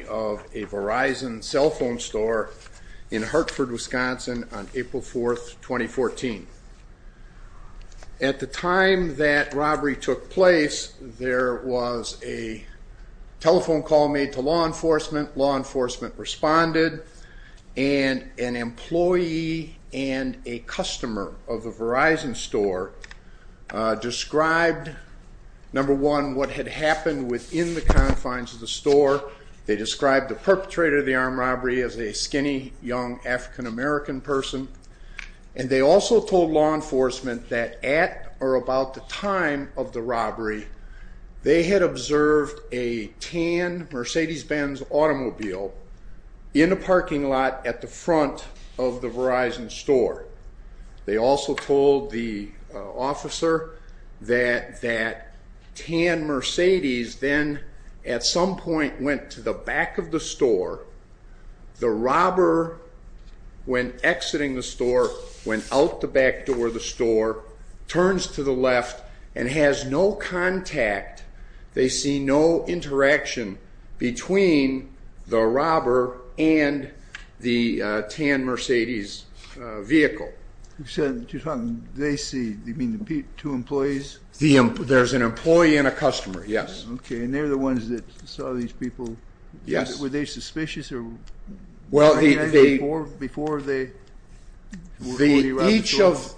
Verizon cell phone store in Hartford, Wisconsin on April 4th, 2014. At the time that robbery took place, there was a telephone call made to law enforcement. Law enforcement responded, and an employee and a customer of the Verizon store described, number one, what had happened within the confines of the store. They described the perpetrator of the armed robbery as a skinny, young African-American person. And they also told law enforcement that at or about the time of the robbery, they had observed a tan Mercedes-Benz automobile in a parking lot at the front of the Verizon store. They also told the officer that that tan Mercedes then, at some point, went to the back of the store. The robber, when exiting the store, went out the back door of the store, turns to the left, and has no interaction between the robber and the tan Mercedes vehicle. You said they see, you mean the two employees? There's an employee and a customer, yes. Okay, and they're the ones that saw these people. Yes. Were they suspicious? Well, each of,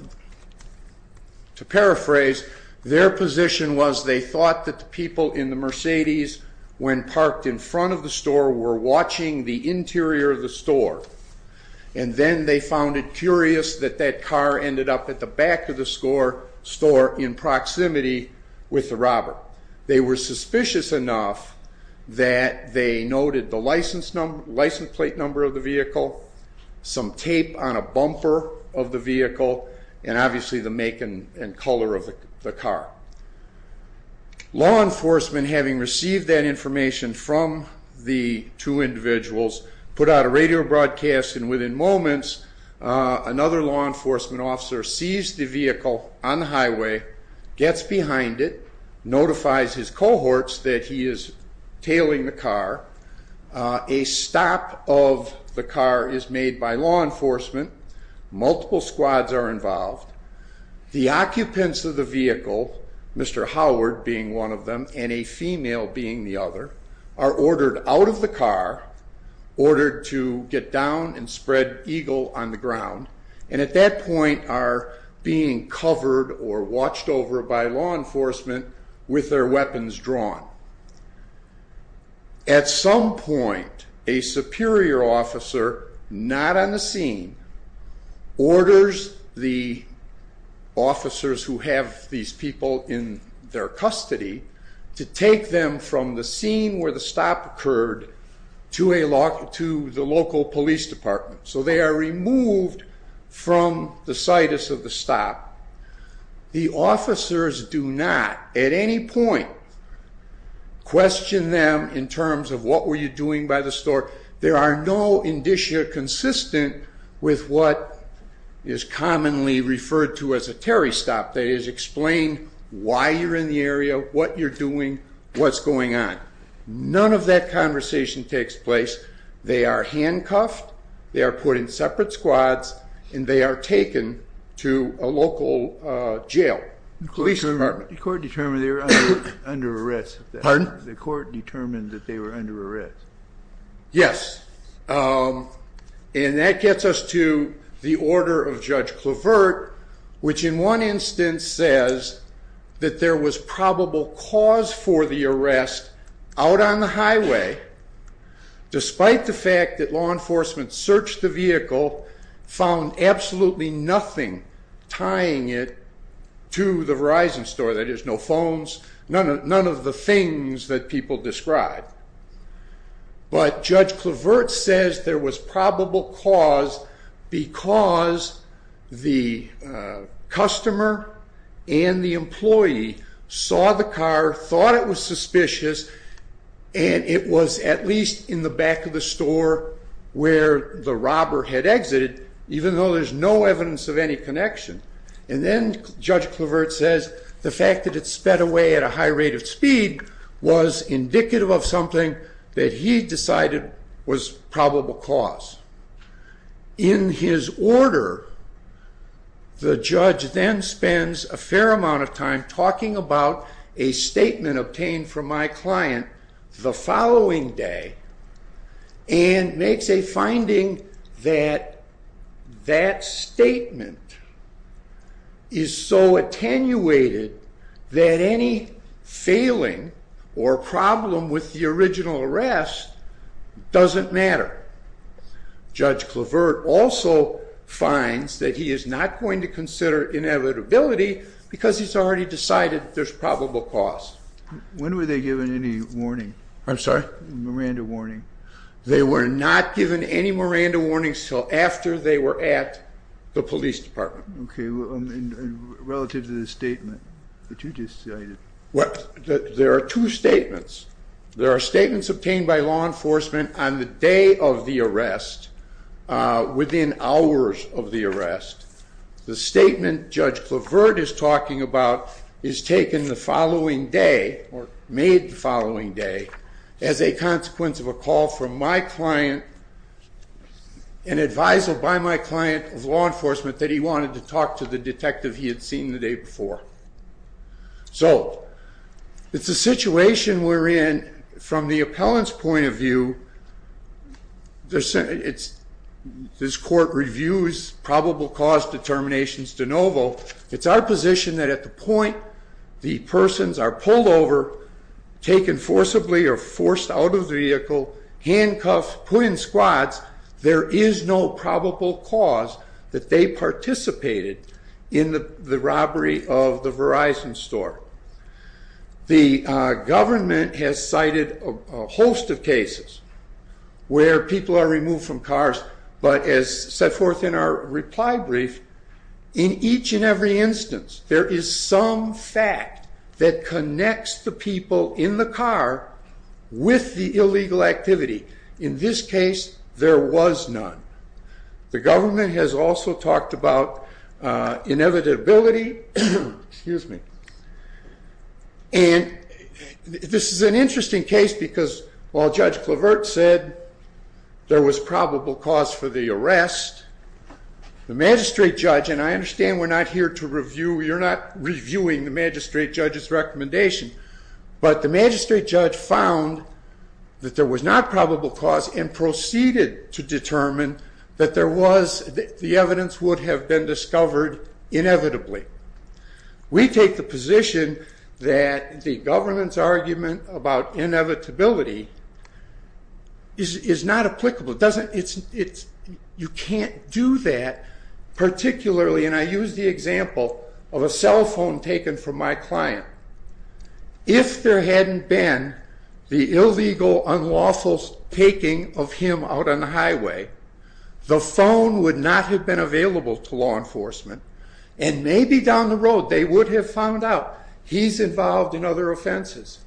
to paraphrase, their position was they thought that the people in the Mercedes, when parked in front of the store, were watching the interior of the store. And then they found it curious that that car ended up at the back of the store in proximity with the robber. They were suspicious enough that they noted the license plate number of the vehicle, some tape on a bumper of the vehicle, and obviously the make and color of the car. Law enforcement, having received that information from the two individuals, put out a radio broadcast, and within moments another law enforcement officer sees the vehicle on the highway, gets behind it, notifies his cohorts that he is tailing the car. A stop of the car is made by law enforcement. Multiple squads are involved. The occupants of the vehicle, Mr. Howard being one of them and a female being the other, are ordered out of the car, ordered to get down and spread Eagle on the ground, and at that point are being covered or watched over by law enforcement with their weapons drawn. At some point, a superior officer, not on the scene, orders the officers who have these people in their custody to take them from the scene where the stop occurred to the local police department. So they are removed from the situs of the stop. The officers do not at any point question them in terms of what were you doing by the store. There are no indicia consistent with what is commonly referred to as a Terry stop. That is, explain why you're in the area, what you're doing, what's going on. None of that conversation takes place. They are handcuffed, they are put in separate squads, and they are taken to a local jail, police department. The court determined they were under arrest. Pardon? The court determined that they were under arrest. Yes. And that gets us to the order of Judge Clevert, which in one instance says that there was probable cause for the arrest out on the highway, despite the fact that law enforcement searched the vehicle, found absolutely nothing tying it to the Verizon store. That is, no phones, none of the things that people describe. But Judge Clevert says there was probable cause because the customer and the employee saw the car, thought it was suspicious, and it was at least in the back of the store where the robber had exited, even though there's no evidence of any connection. And then Judge Clevert says the fact that it sped away at a high rate of speed was indicative of something that he decided was probable cause. In his order, the judge then spends a fair amount of time talking about a statement obtained from my client the following day and makes a finding that that statement is so attenuated that any failing or problem with the original arrest doesn't matter. Judge Clevert also finds that he is not going to consider inevitability because he's already decided there's probable cause. When were they given any warning? I'm sorry? Miranda warning. They were not given any Miranda warnings until after they were at the police department. Okay. And relative to the statement that you just cited? Well, there are two statements. There are statements obtained by law enforcement on the day of the arrest, within hours of the arrest. The statement Judge Clevert is talking about is taken the following day or made the following day as a consequence of a call from my client, an advisor by my client of law enforcement, that he wanted to talk to the detective he had seen the day before. So it's a situation wherein, from the appellant's point of view, this court reviews probable cause determinations de novo. It's our position that at the point the persons are pulled over, taken forcibly or forced out of the vehicle, handcuffed, put in squads, there is no probable cause that they participated in the robbery of the Verizon store. The government has cited a host of cases where people are removed from cars, but as set forth in our reply brief, in each and every instance, there is some fact that connects the people in the car with the illegal activity. In this case, there was none. The government has also talked about inevitability. And this is an interesting case because while Judge Clevert said there was probable cause for the arrest, the magistrate judge, and I understand we're not here to review, but the magistrate judge found that there was not probable cause and proceeded to determine that the evidence would have been discovered inevitably. We take the position that the government's argument about inevitability is not applicable. You can't do that, particularly, and I use the example of a cell phone taken from my client. If there hadn't been the illegal unlawful taking of him out on the highway, the phone would not have been available to law enforcement, and maybe down the road they would have found out he's involved in other offenses.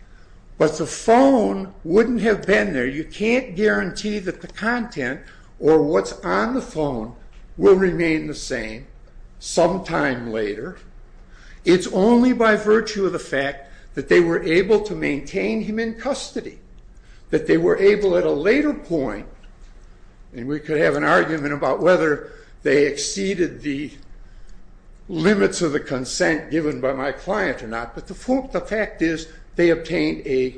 But the phone wouldn't have been there. You can't guarantee that the content or what's on the phone will remain the same sometime later. It's only by virtue of the fact that they were able to maintain him in custody, that they were able at a later point, and we could have an argument about whether they exceeded the limits of the consent given by my client or not, but the fact is they obtained a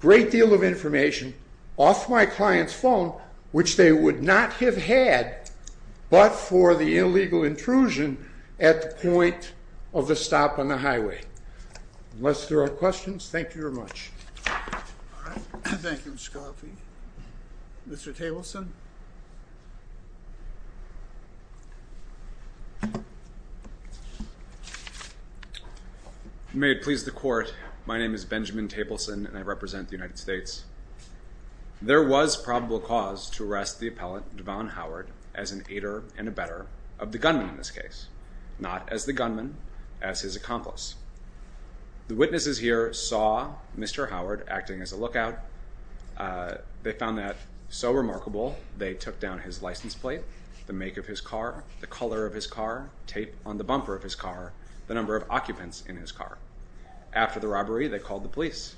great deal of information off my client's phone, which they would not have had but for the illegal intrusion at the point of the stop on the highway. Unless there are questions, thank you very much. Thank you, Mr. Coffey. Mr. Tableson. May it please the court, my name is Benjamin Tableson, and I represent the United States. There was probable cause to arrest the appellant, Devon Howard, as an aider and abettor of the gunman in this case, not as the gunman, as his accomplice. The witnesses here saw Mr. Howard acting as a lookout. They found that so remarkable, they took down his license plate, the make of his car, the color of his car, tape on the bumper of his car, the number of occupants in his car. After the robbery, they called the police.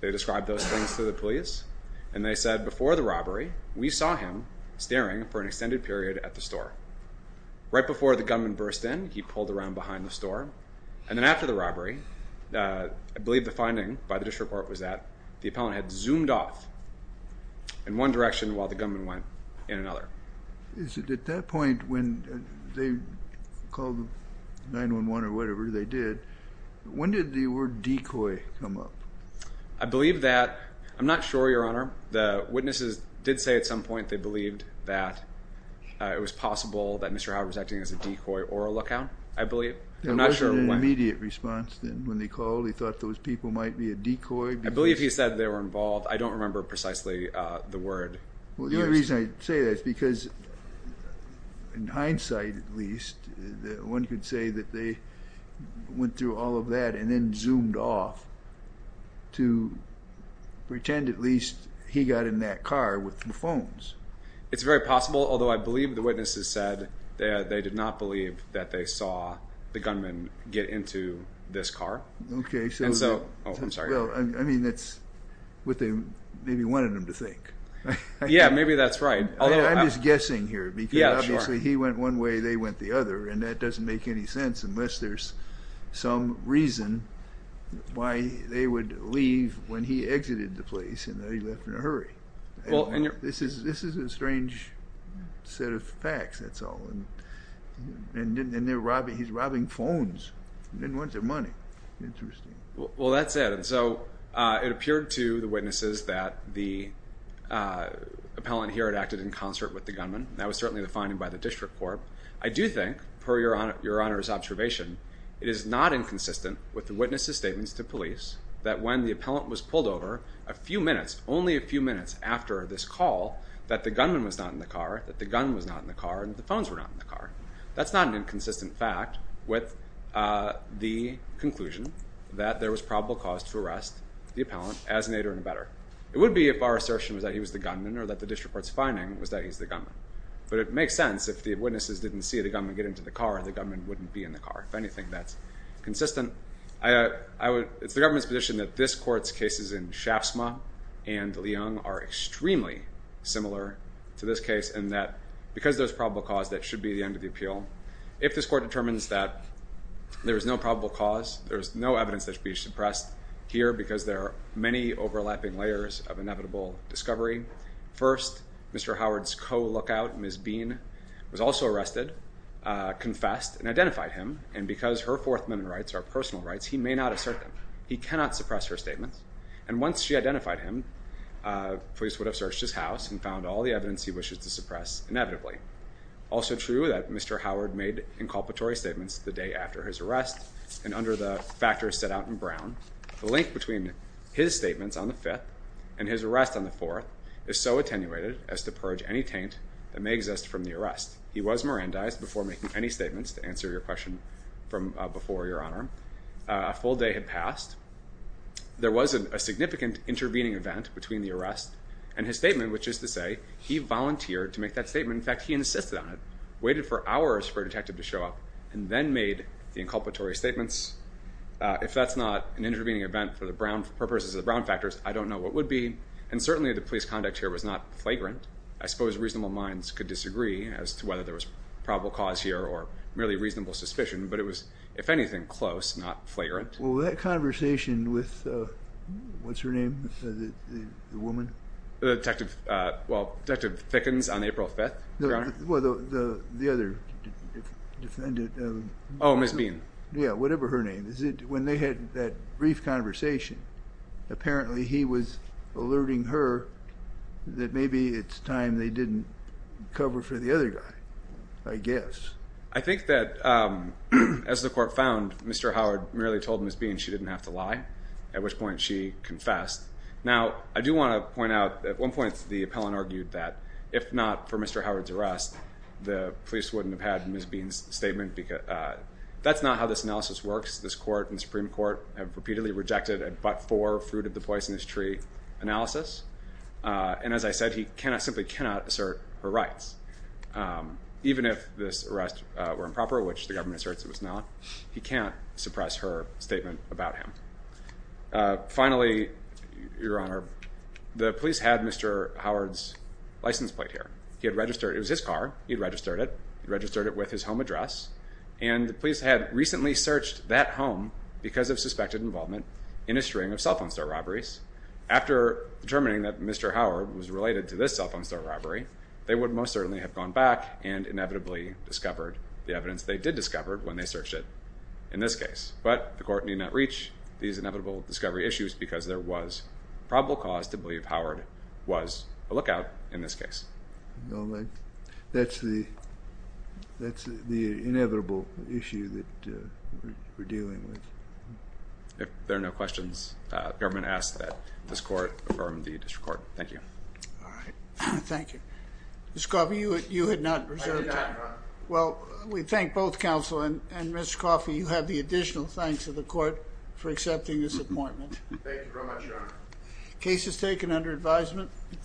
They described those things to the police, and they said before the robbery, we saw him staring for an extended period at the store. Right before the gunman burst in, he pulled around behind the store, and then after the robbery, I believe the finding by the district court was that the appellant had zoomed off in one direction while the gunman went in another. At that point, when they called 911 or whatever they did, when did the word decoy come up? I believe that, I'm not sure, Your Honor. The witnesses did say at some point they believed that it was possible that Mr. Howard was acting as a decoy or a lookout, I believe. There wasn't an immediate response when they called. They thought those people might be a decoy. I believe he said they were involved. I don't remember precisely the word. The only reason I say that is because, in hindsight at least, one could say that they went through all of that and then zoomed off to pretend at least he got in that car with the phones. It's very possible, although I believe the witnesses said that they did not believe that they saw the gunman get into this car. Okay. I'm sorry. I mean, that's what they maybe wanted him to think. Yeah, maybe that's right. I'm just guessing here because obviously he went one way, they went the other, and that doesn't make any sense unless there's some reason why they would leave when he exited the place and they left in a hurry. This is a strange set of facts, that's all. And he's robbing phones. He didn't want their money. Interesting. Well, that's it. So it appeared to the witnesses that the appellant here had acted in concert with the gunman. That was certainly the finding by the district court. I do think, per Your Honor's observation, it is not inconsistent with the witnesses' statements to police that when the appellant was pulled over a few minutes, only a few minutes after this call, that the gunman was not in the car, that the gun was not in the car, and that the phones were not in the car. That's not an inconsistent fact with the conclusion that there was probable cause to arrest the appellant as an aider and abettor. It would be if our assertion was that he was the gunman or that the district court's finding was that he's the gunman. But it makes sense if the witnesses didn't see the gunman get into the car, the gunman wouldn't be in the car. If anything, that's consistent. It's the government's position that this court's cases in Shaftesbury and Leung are extremely similar to this case in that because there's probable cause, that should be the end of the appeal. If this court determines that there is no probable cause, there is no evidence that should be suppressed here because there are many overlapping layers of inevitable discovery, first, Mr. Howard's co-lookout, Ms. Bean, was also arrested, confessed, and identified him. And because her Fourth Amendment rights are personal rights, he may not assert them. He cannot suppress her statements. And once she identified him, police would have searched his house and found all the evidence he wishes to suppress inevitably. Also true that Mr. Howard made inculpatory statements the day after his arrest, and under the factors set out in Brown, the link between his statements on the 5th and his arrest on the 4th is so attenuated as to purge any taint that may exist from the arrest. He was Mirandized before making any statements, to answer your question from before, Your Honor. A full day had passed. There was a significant intervening event between the arrest and his statement, which is to say he volunteered to make that statement. In fact, he insisted on it, waited for hours for a detective to show up, and then made the inculpatory statements. If that's not an intervening event for purposes of the Brown factors, I don't know what would be. And certainly the police conduct here was not flagrant. I suppose reasonable minds could disagree as to whether there was probable cause here or merely reasonable suspicion, but it was, if anything, close, not flagrant. Well, that conversation with, what's her name, the woman? Detective, well, Detective Thickens on April 5th, Your Honor. Well, the other defendant. Oh, Ms. Bean. Yeah, whatever her name. When they had that brief conversation, apparently he was alerting her that maybe it's time they didn't cover for the other guy, I guess. I think that as the court found, Mr. Howard merely told Ms. Bean she didn't have to lie, at which point she confessed. Now, I do want to point out at one point the appellant argued that if not for Mr. Howard's arrest, the police wouldn't have had Ms. Bean's statement. That's not how this analysis works. This court and the Supreme Court have repeatedly rejected a but-for fruit-of-the-poisonous-tree analysis, and as I said, he simply cannot assert her rights. Even if this arrest were improper, which the government asserts it was not, he can't suppress her statement about him. Finally, Your Honor, the police had Mr. Howard's license plate here. He had registered it. It was his car. He had registered it. He registered it with his home address, and the police had recently searched that home because of suspected involvement in a string of cell phone store robberies. After determining that Mr. Howard was related to this cell phone store robbery, they would most certainly have gone back and inevitably discovered the evidence they did discover when they searched it in this case. But the court need not reach these inevitable discovery issues because there was probable cause to believe Howard was a lookout in this case. That's the inevitable issue that we're dealing with. If there are no questions, the government asks that this court affirm the district court. Thank you. All right. Thank you. Mr. Coffey, you had not reserved time. I did not, Your Honor. Well, we thank both counsel and Mr. Coffey. You have the additional thanks of the court for accepting this appointment. Thank you very much, Your Honor. Case is taken under advisement.